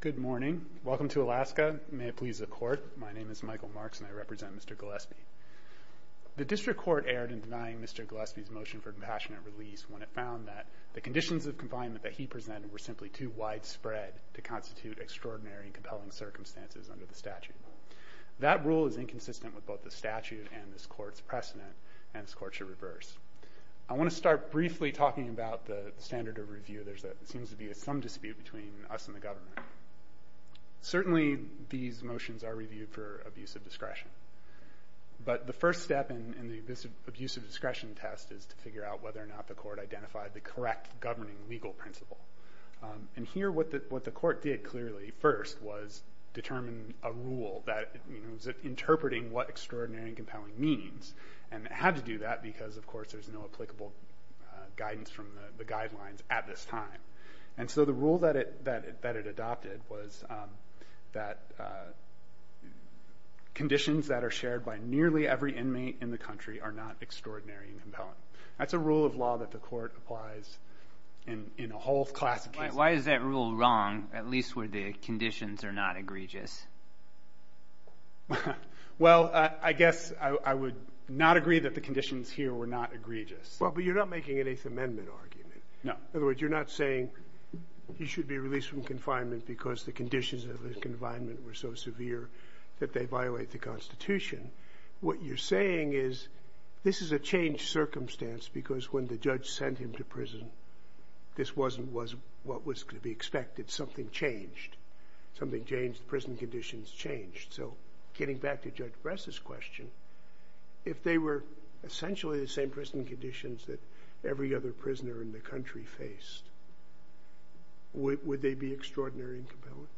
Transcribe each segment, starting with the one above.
Good morning. Welcome to Alaska. May it please the court. My name is Michael Marks and I represent Mr. Gillespie. The district court erred in denying Mr. Gillespie's motion for compassionate release when it found that the conditions of confinement that he presented were simply too widespread to constitute extraordinary and compelling circumstances under the statute. That rule is inconsistent with both the statute and this court's precedent and this court should reverse. I want to start briefly talking about the standard of review. There seems to be some dispute between us and the government. Certainly these motions are reviewed for abuse of discretion. But the first step in this abuse of discretion test is to figure out whether or not the court identified the correct governing legal principle. And here what the court did clearly first was determine a rule that was interpreting what extraordinary and compelling means. And it had to do that because of course there's no applicable guidance from the guidelines at this time. And so the rule that it adopted was that conditions that are shared by nearly every inmate in the country are not extraordinary and compelling. That's a rule of law that the court applies in a whole class of cases. Why is that rule wrong, at least where the conditions are not egregious? Well, I guess I would not agree that the conditions here were not egregious. Well, but you're not making an Eighth Amendment argument. No. In other words, you're not saying he should be released from confinement because the conditions of his confinement were so severe that they violate the Constitution. What you're saying is this is a changed circumstance because when the judge sent him to prison, this wasn't what was going to be expected. Something changed. Something changed. Prison conditions changed. So getting back to Judge Bress's question, if they were essentially the same prison conditions that every other prisoner in the country faced, would they be extraordinary and compelling?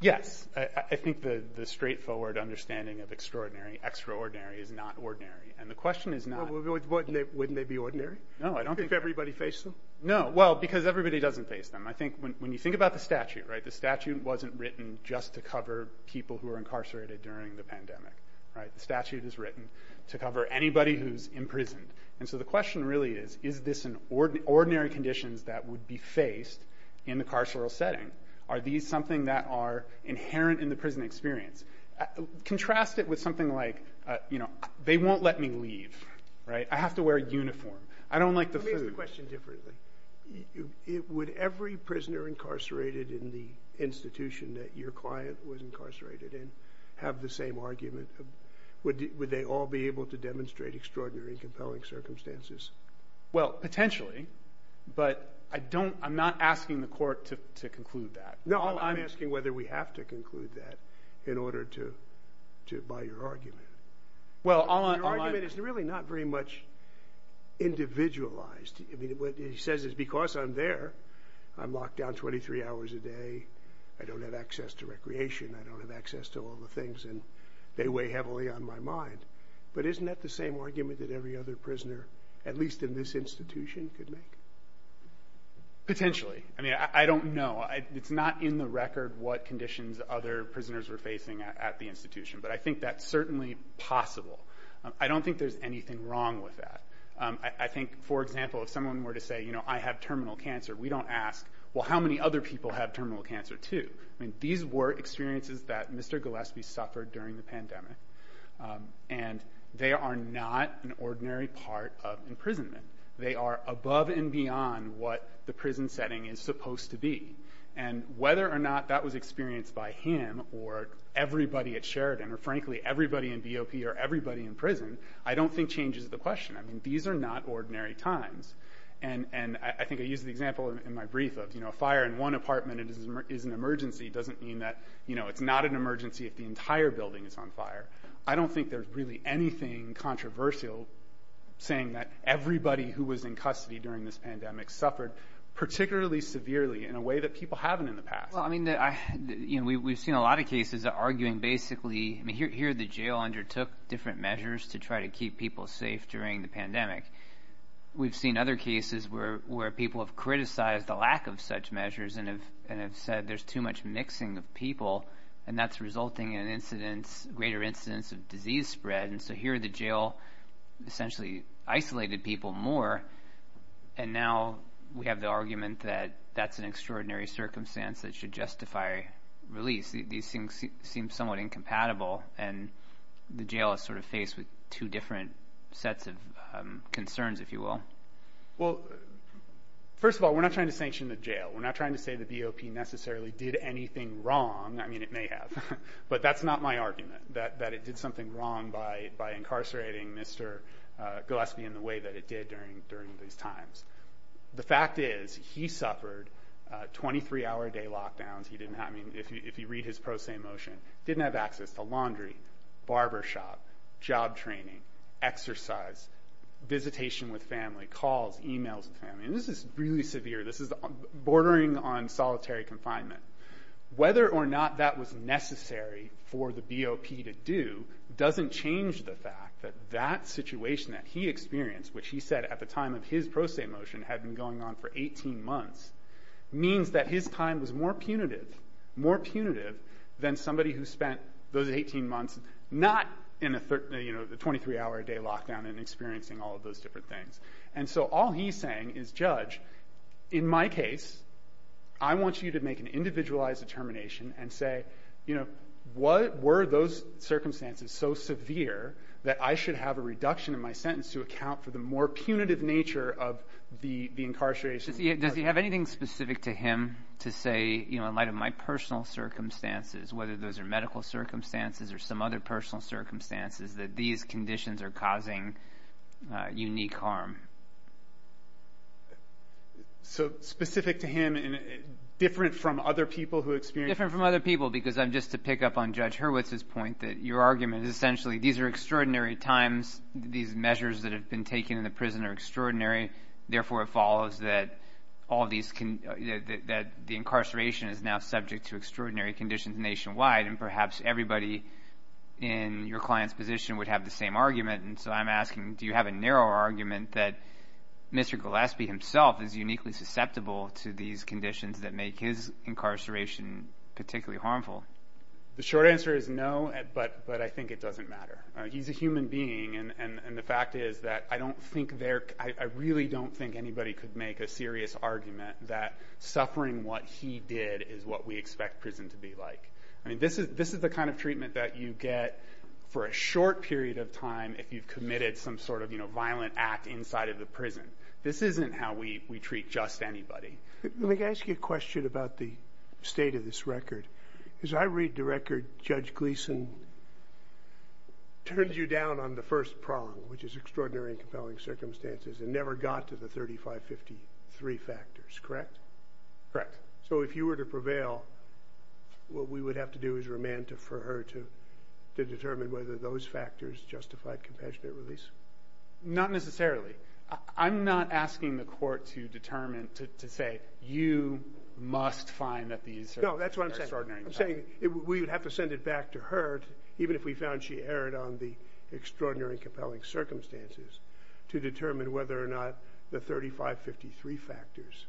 Yes. I think the straightforward understanding of extraordinary, extraordinary is not ordinary. And the question is not— Well, wouldn't they be ordinary? No, I don't think— If everybody faced them? No. Well, because everybody doesn't face them. I think when you think about the statute, right, the statute wasn't written just to cover people who were incarcerated during the pandemic, right? The statute is written to cover anybody who's imprisoned. And so the question really is, is this an ordinary conditions that would be faced in the carceral setting? Are these something that are inherent in the prison experience? Contrast it with something like, you know, they won't let me leave, right? I have to wear a uniform. I don't like the food. Let me ask the question differently. Would every prisoner incarcerated in the institution that your client was incarcerated in have the same argument? Would they all be able to demonstrate extraordinary and compelling circumstances? Well, potentially, but I don't—I'm not asking the court to conclude that. No, I'm asking whether we have to conclude that in order to buy your argument. Well, all I'm— Your argument is really not very much individualized. I mean, what he says is because I'm there, I'm locked down 23 hours a day. I don't have access to recreation. I don't have access to all the things, and they weigh heavily on my mind. But isn't that the same argument that every other prisoner, at least in this institution, could make? Potentially. I mean, I don't know. It's not in the record what conditions other prisoners were facing at the institution, but I think that's certainly possible. I don't think there's anything wrong with that. I think, for example, if someone were to say, you know, I have terminal cancer, we don't ask, well, how many other people have terminal cancer too? I mean, these were experiences that Mr. Gillespie suffered during the pandemic, and they are not an ordinary part of imprisonment. They are above and beyond what the prison setting is supposed to be. And whether or not that was experienced by him or everybody at Sheridan or, frankly, everybody in BOP or everybody in prison, I don't think changes the question. I mean, these are not ordinary times. And I think I used the example in my brief of, you know, a fire in one apartment is an emergency. It doesn't mean that, you know, it's not an emergency if the entire building is on fire. I don't think there's really anything controversial saying that everybody who was in custody during this pandemic suffered particularly severely in a way that people haven't in the past. Well, I mean, we've seen a lot of cases arguing basically, I mean, here the jail undertook different measures to try to keep people safe during the pandemic. We've seen other cases where people have criticized the lack of such measures and have said there's too much mixing of people, and that's resulting in greater incidence of disease spread. And so here the jail essentially isolated people more, and now we have the argument that that's an extraordinary circumstance that should justify release. These things seem somewhat incompatible, and the jail is sort of faced with two different sets of concerns, if you will. Well, first of all, we're not trying to sanction the jail. We're not trying to say the BOP necessarily did anything wrong. I mean, it may have, but that's not my argument, that it did something wrong by incarcerating Mr. Gillespie in the way that it did during these times. The fact is he suffered 23-hour-a-day lockdowns. I mean, if you read his pro se motion, didn't have access to laundry, barbershop, job training, exercise, visitation with family, calls, e-mails with family. And this is really severe. This is bordering on solitary confinement. Whether or not that was necessary for the BOP to do doesn't change the fact that that situation that he experienced, which he said at the time of his pro se motion had been going on for 18 months, means that his time was more punitive than somebody who spent those 18 months not in a 23-hour-a-day lockdown and experiencing all of those different things. And so all he's saying is, Judge, in my case, I want you to make an individualized determination and say, what were those circumstances so severe that I should have a reduction in my sentence to account for the more punitive nature of the incarceration? Does he have anything specific to him to say, you know, in light of my personal circumstances, whether those are medical circumstances or some other personal circumstances, that these conditions are causing unique harm? So specific to him and different from other people who experienced? Different from other people because I'm just to pick up on Judge Hurwitz's point that your argument is essentially these are extraordinary times, these measures that have been taken in the prison are extraordinary. Therefore, it follows that all of these can that the incarceration is now subject to extraordinary conditions nationwide. And perhaps everybody in your client's position would have the same argument. And so I'm asking, do you have a narrow argument that Mr. Gillespie himself is uniquely susceptible to these conditions that make his incarceration particularly harmful? The short answer is no. But but I think it doesn't matter. He's a human being. And the fact is that I don't think there I really don't think anybody could make a serious argument that suffering what he did is what we expect prison to be like. I mean, this is this is the kind of treatment that you get for a short period of time. If you've committed some sort of, you know, violent act inside of the prison. This isn't how we treat just anybody. Let me ask you a question about the state of this record, because I read the record. Judge Gleason turned you down on the first prong, which is extraordinary and compelling circumstances and never got to the thirty five fifty three factors, correct? Correct. So if you were to prevail, what we would have to do is remand for her to determine whether those factors justified compassionate release. Not necessarily. I'm not asking the court to determine to say you must find that these. No, that's what I'm saying. We would have to send it back to her. Even if we found she erred on the extraordinary and compelling circumstances to determine whether or not the thirty five fifty three factors.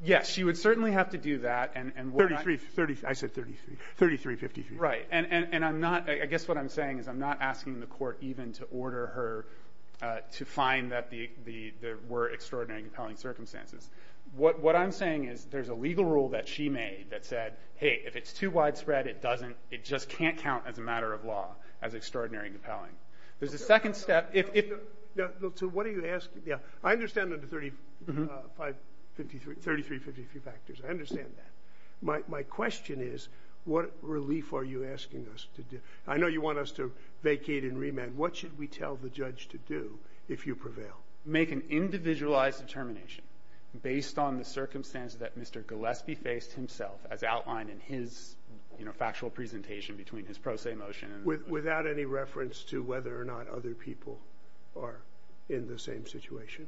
Yes, she would certainly have to do that. And thirty three thirty. I guess what I'm saying is I'm not asking the court even to order her to find that the there were extraordinary compelling circumstances. What what I'm saying is there's a legal rule that she made that said, hey, if it's too widespread, it doesn't. It just can't count as a matter of law as extraordinary and compelling. There's a second step. What are you asking? Yeah, I understand that. Fifty three thirty three fifty three factors. I understand that. My question is, what relief are you asking us to do? I know you want us to vacate and remand. What should we tell the judge to do if you prevail? Make an individualized determination based on the circumstances that Mr. Gillespie faced himself as outlined in his factual presentation between his pro se motion. Without any reference to whether or not other people are in the same situation.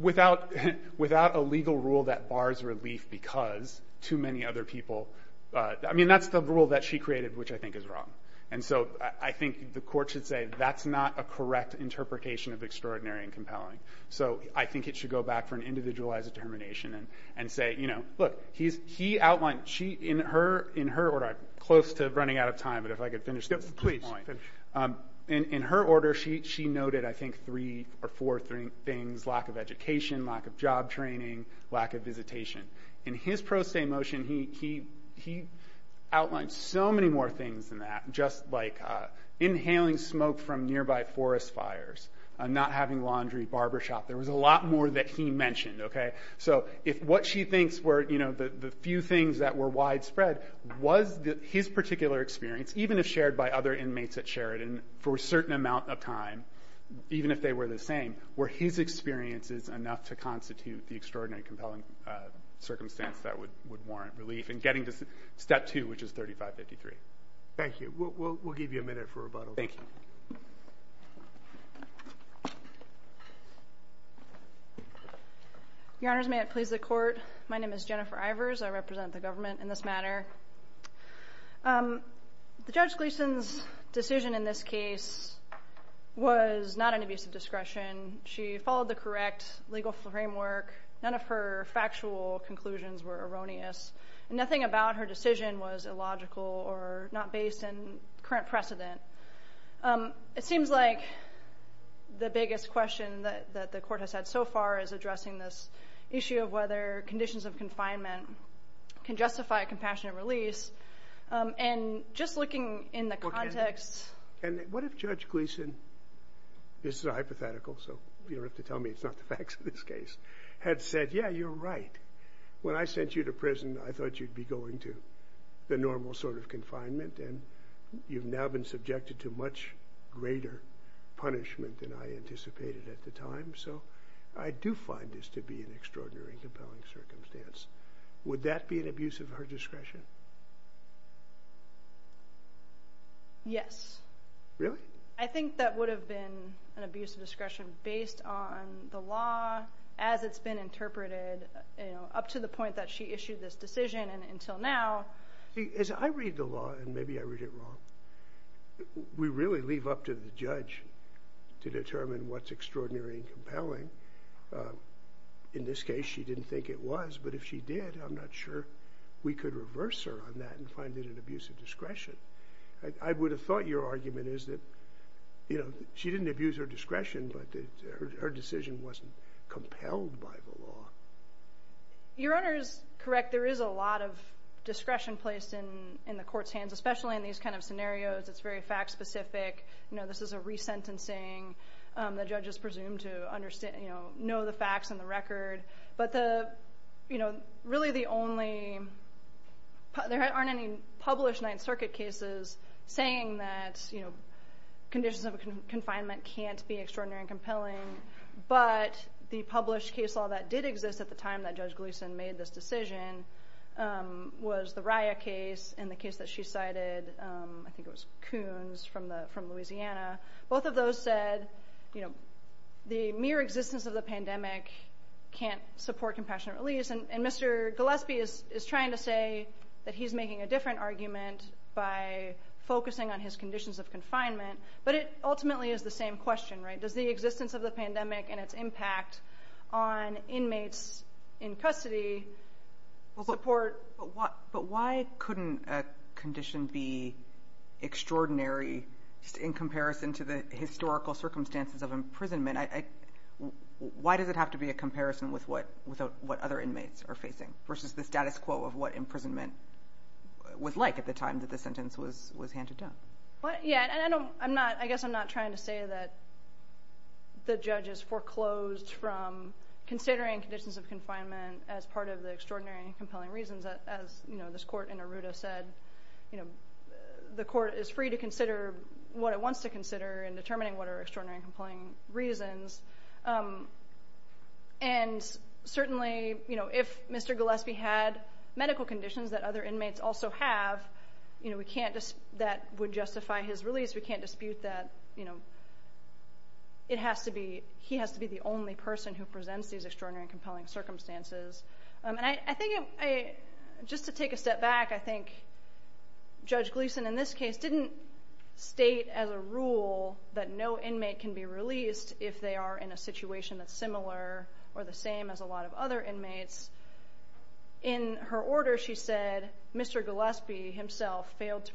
Without without a legal rule that bars relief because too many other people. I mean, that's the rule that she created, which I think is wrong. And so I think the court should say that's not a correct interpretation of extraordinary and compelling. So I think it should go back for an individualized determination and say, you know, look, he's he outlined she in her in her order close to running out of time. But if I could finish this, please. And in her order, she she noted, I think, three or four things. Lack of education, lack of job training, lack of visitation in his pro se motion. He he he outlined so many more things than that. Just like inhaling smoke from nearby forest fires, not having laundry, barbershop. There was a lot more that he mentioned. OK, so if what she thinks were, you know, the few things that were widespread was his particular experience, even if shared by other inmates at Sheridan for a certain amount of time, even if they were the same, were his experiences enough to constitute the extraordinary, compelling circumstance that would would warrant relief and getting to step two, which is thirty five, fifty three. Thank you. We'll give you a minute for rebuttal. Thank you. Your Honor's may it please the court. My name is Jennifer Ivers. I represent the government in this matter. The judge Gleason's decision in this case was not an abuse of discretion. She followed the correct legal framework. None of her factual conclusions were erroneous. Nothing about her decision was illogical or not based on current precedent. It seems like the biggest question that the court has had so far is addressing this issue of whether conditions of confinement can justify a compassionate release. And just looking in the context and what if Judge Gleason is hypothetical. So you have to tell me it's not the facts of this case had said, yeah, you're right. When I sent you to prison, I thought you'd be going to the normal sort of confinement. And you've now been subjected to much greater punishment than I anticipated at the time. So I do find this to be an extraordinary and compelling circumstance. Would that be an abuse of her discretion? Yes. Really? I think that would have been an abuse of discretion based on the law as it's been interpreted up to the point that she issued this decision. As I read the law, and maybe I read it wrong, we really leave up to the judge to determine what's extraordinary and compelling. In this case, she didn't think it was, but if she did, I'm not sure we could reverse her on that and find it an abuse of discretion. I would have thought your argument is that she didn't abuse her discretion, but her decision wasn't compelled by the law. Your Honor is correct. There is a lot of discretion placed in the court's hands, especially in these kind of scenarios. It's very fact specific. This is a resentencing. The judge is presumed to know the facts and the record. But really, there aren't any published Ninth Circuit cases saying that conditions of confinement can't be extraordinary and compelling. But the published case law that did exist at the time that Judge Gleason made this decision was the Rya case and the case that she cited. I think it was Coons from Louisiana. Both of those said, you know, the mere existence of the pandemic can't support compassionate release. And Mr. Gillespie is trying to say that he's making a different argument by focusing on his conditions of confinement. But it ultimately is the same question, right? Does the existence of the pandemic and its impact on inmates in custody support? But why couldn't a condition be extraordinary in comparison to the historical circumstances of imprisonment? Why does it have to be a comparison with what without what other inmates are facing versus the status quo of what imprisonment was like at the time that the sentence was was handed down? But yeah, I don't I'm not I guess I'm not trying to say that the judge is foreclosed from considering conditions of confinement as part of the extraordinary and compelling reasons. As you know, this court in Arruda said, you know, the court is free to consider what it wants to consider in determining what are extraordinary and compelling reasons. And certainly, you know, if Mr. Gillespie had medical conditions that other inmates also have, you know, we can't just that would justify his release. We can't dispute that. You know, it has to be he has to be the only person who presents these extraordinary and compelling circumstances. And I think I just to take a step back, I think Judge Gleason in this case didn't state as a rule that no inmate can be released if they are in a situation that's similar or the same as a lot of other inmates. In her order, she said Mr. Gillespie himself failed to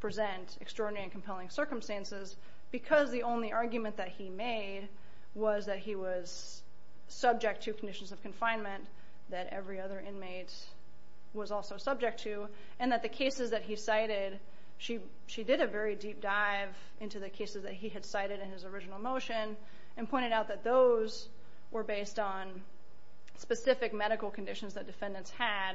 present extraordinary and compelling circumstances because the only argument that he made was that he was subject to conditions of confinement that every other inmate was also subject to. And that the cases that he cited, she did a very deep dive into the cases that he had cited in his original motion and pointed out that those were based on specific medical conditions that defendants had,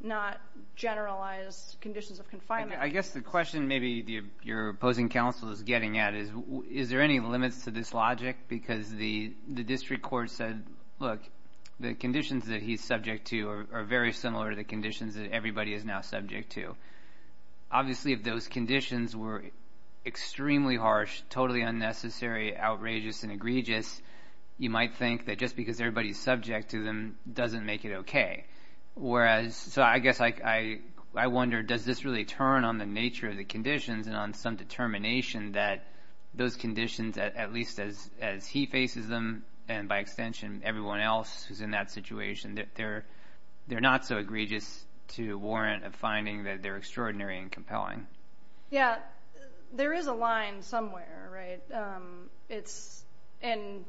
not generalized conditions of confinement. I guess the question maybe your opposing counsel is getting at is, is there any limits to this logic? Because the district court said, look, the conditions that he's subject to are very similar to the conditions that everybody is now subject to. Obviously, if those conditions were extremely harsh, totally unnecessary, outrageous, and egregious, you might think that just because everybody is subject to them doesn't make it okay. So I guess I wonder, does this really turn on the nature of the conditions and on some determination that those conditions, at least as he faces them, and by extension everyone else who's in that situation, they're not so egregious to warrant a finding that they're extraordinary and compelling? Yeah, there is a line somewhere, right? And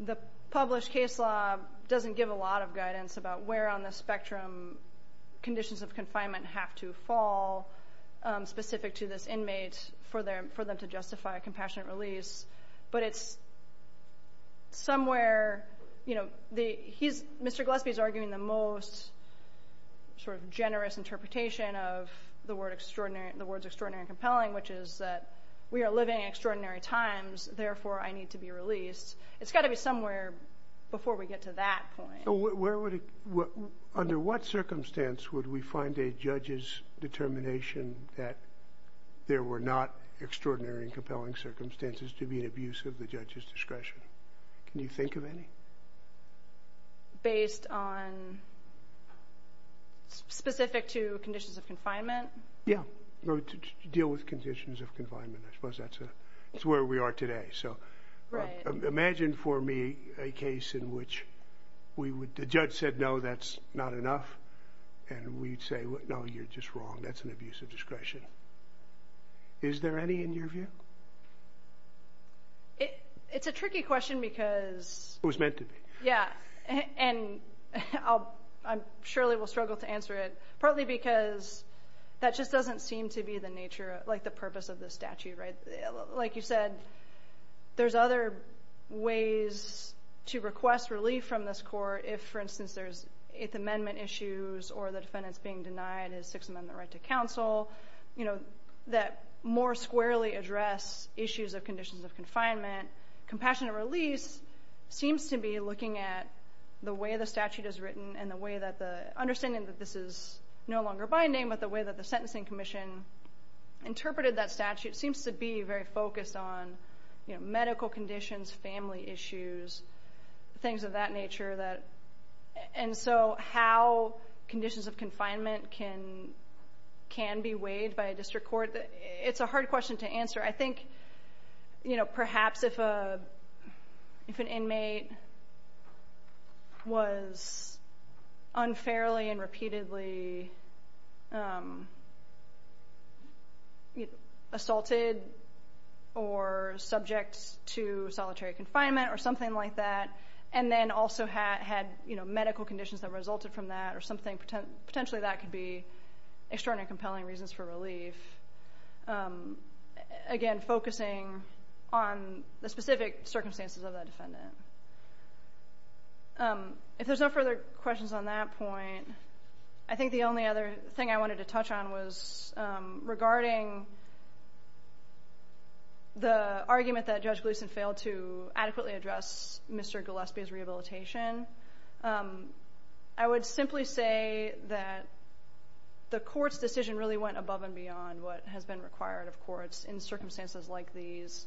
the published case law doesn't give a lot of guidance about where on the spectrum conditions of confinement have to fall specific to this inmate for them to justify a compassionate release. But it's somewhere, you know, Mr. Gillespie's arguing the most sort of generous interpretation of the words extraordinary and compelling, which is that we are living in extraordinary times, therefore I need to be released. It's got to be somewhere before we get to that point. Under what circumstance would we find a judge's determination that there were not extraordinary and compelling circumstances to be an abuse of the judge's discretion? Can you think of any? Based on, specific to conditions of confinement? Yeah, to deal with conditions of confinement. I suppose that's where we are today. So imagine for me a case in which the judge said, no, that's not enough. And we'd say, no, you're just wrong. That's an abuse of discretion. Is there any in your view? It's a tricky question because... It was meant to be. Yeah, and I surely will struggle to answer it. Partly because that just doesn't seem to be the nature, like the purpose of the statute, right? Like you said, there's other ways to request relief from this court if, for instance, there's Eighth Amendment issues or the defendant's being denied his Sixth Amendment right to counsel. That more squarely address issues of conditions of confinement. Compassionate release seems to be looking at the way the statute is written and the way that the... Understanding that this is no longer by name, but the way that the Sentencing Commission interpreted that statute seems to be very focused on medical conditions, family issues, things of that nature. And so how conditions of confinement can be weighed by a district court, it's a hard question to answer. I think perhaps if an inmate was unfairly and repeatedly assaulted or subject to solitary confinement or something like that. And then also had medical conditions that resulted from that or something, potentially that could be extraordinary compelling reasons for relief. Again, focusing on the specific circumstances of that defendant. If there's no further questions on that point, I think the only other thing I wanted to touch on was regarding the argument that Judge Gleeson failed to adequately address Mr. Gillespie's rehabilitation. I would simply say that the court's decision really went above and beyond what has been required of courts in circumstances like these.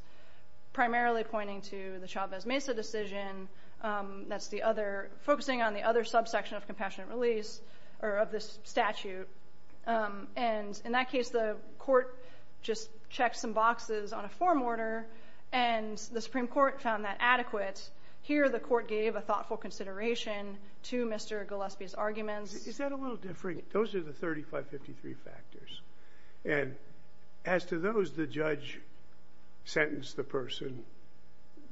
Primarily pointing to the Chavez-Mesa decision that's focusing on the other subsection of compassionate release or of this statute. And in that case, the court just checked some boxes on a form order and the Supreme Court found that adequate. Here the court gave a thoughtful consideration to Mr. Gillespie's arguments. Those are the 3553 factors. And as to those the judge sentenced the person,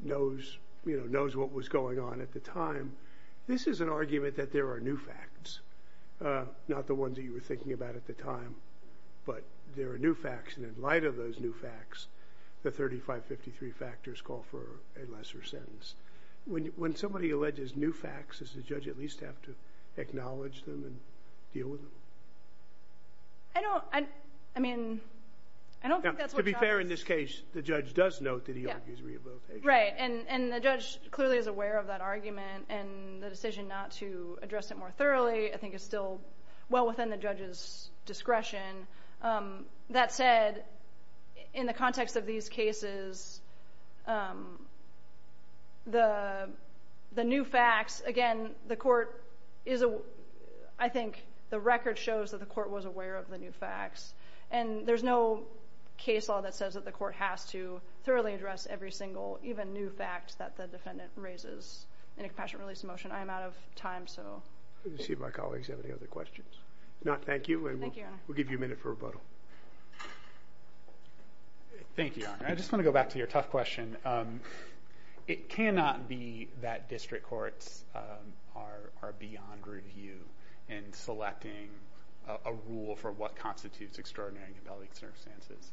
knows what was going on at the time, this is an argument that there are new facts. Not the ones that you were thinking about at the time, but there are new facts. And in light of those new facts, the 3553 factors call for a lesser sentence. When somebody alleges new facts, does the judge at least have to acknowledge them and deal with them? To be fair in this case, the judge does note that he argues rehabilitation. Right, and the judge clearly is aware of that argument and the decision not to address it more thoroughly I think is still well within the judge's discretion. That said, in the context of these cases, the new facts, again, the court is, I think the record shows that the court was aware of the new facts. And there's no case law that says that the court has to thoroughly address every single even new fact that the defendant raises in a compassionate release motion. I am out of time. Let's see if my colleagues have any other questions. No, thank you and we'll give you a minute for rebuttal. Thank you, Your Honor. I just want to go back to your tough question. It cannot be that district courts are beyond review in selecting a rule for what constitutes extraordinary and compelling circumstances.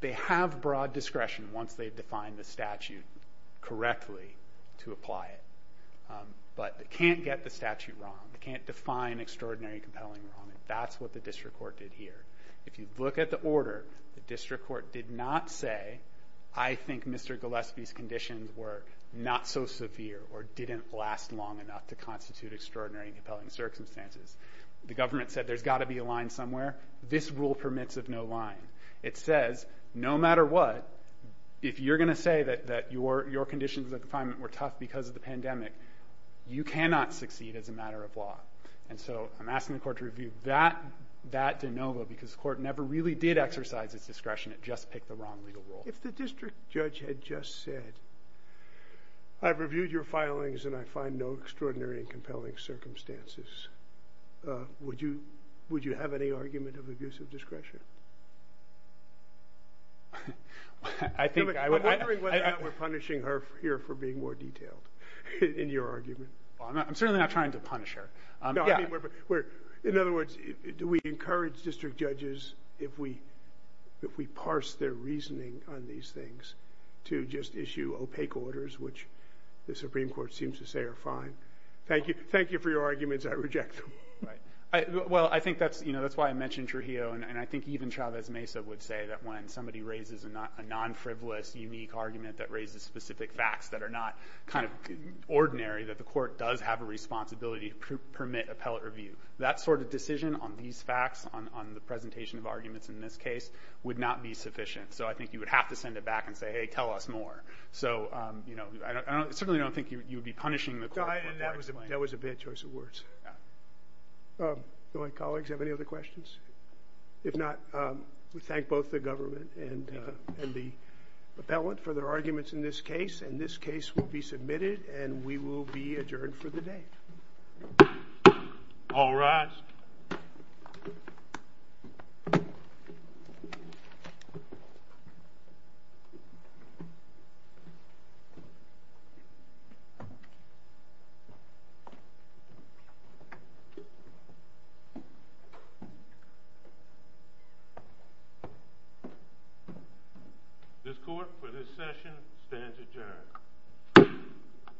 They have broad discretion once they've defined the statute correctly to apply it. But they can't get the statute wrong. They can't define extraordinary and compelling wrong. That's what the district court did here. If you look at the order, the district court did not say, I think Mr. Gillespie's conditions were not so severe or didn't last long enough to constitute extraordinary and compelling circumstances. The government said there's got to be a line somewhere. This rule permits of no line. It says no matter what, if you're going to say that your conditions of confinement were tough because of the pandemic, you cannot succeed as a matter of law. And so I'm asking the court to review that de novo because the court never really did exercise its discretion. It just picked the wrong legal rule. If the district judge had just said, I've reviewed your filings and I find no extraordinary and compelling circumstances, would you have any argument of abusive discretion? I think I would. I'm wondering whether or not we're punishing her here for being more detailed in your argument. I'm certainly not trying to punish her. In other words, do we encourage district judges, if we parse their reasoning on these things, to just issue opaque orders, which the Supreme Court seems to say are fine? Thank you. Thank you for your arguments. I reject them. Well, I think that's, you know, that's why I mentioned Trujillo. And I think even Chavez Mesa would say that when somebody raises a non-frivolous, unique argument that raises specific facts that are not kind of ordinary, that the court does have a responsibility to permit appellate review. That sort of decision on these facts, on the presentation of arguments in this case, would not be sufficient. So I think you would have to send it back and say, hey, tell us more. So, you know, I certainly don't think you would be punishing the court. That was a bad choice of words. Do my colleagues have any other questions? If not, we thank both the government and the appellate for their arguments in this case. And this case will be submitted and we will be adjourned for the day. All rise. This court for this session stands adjourned.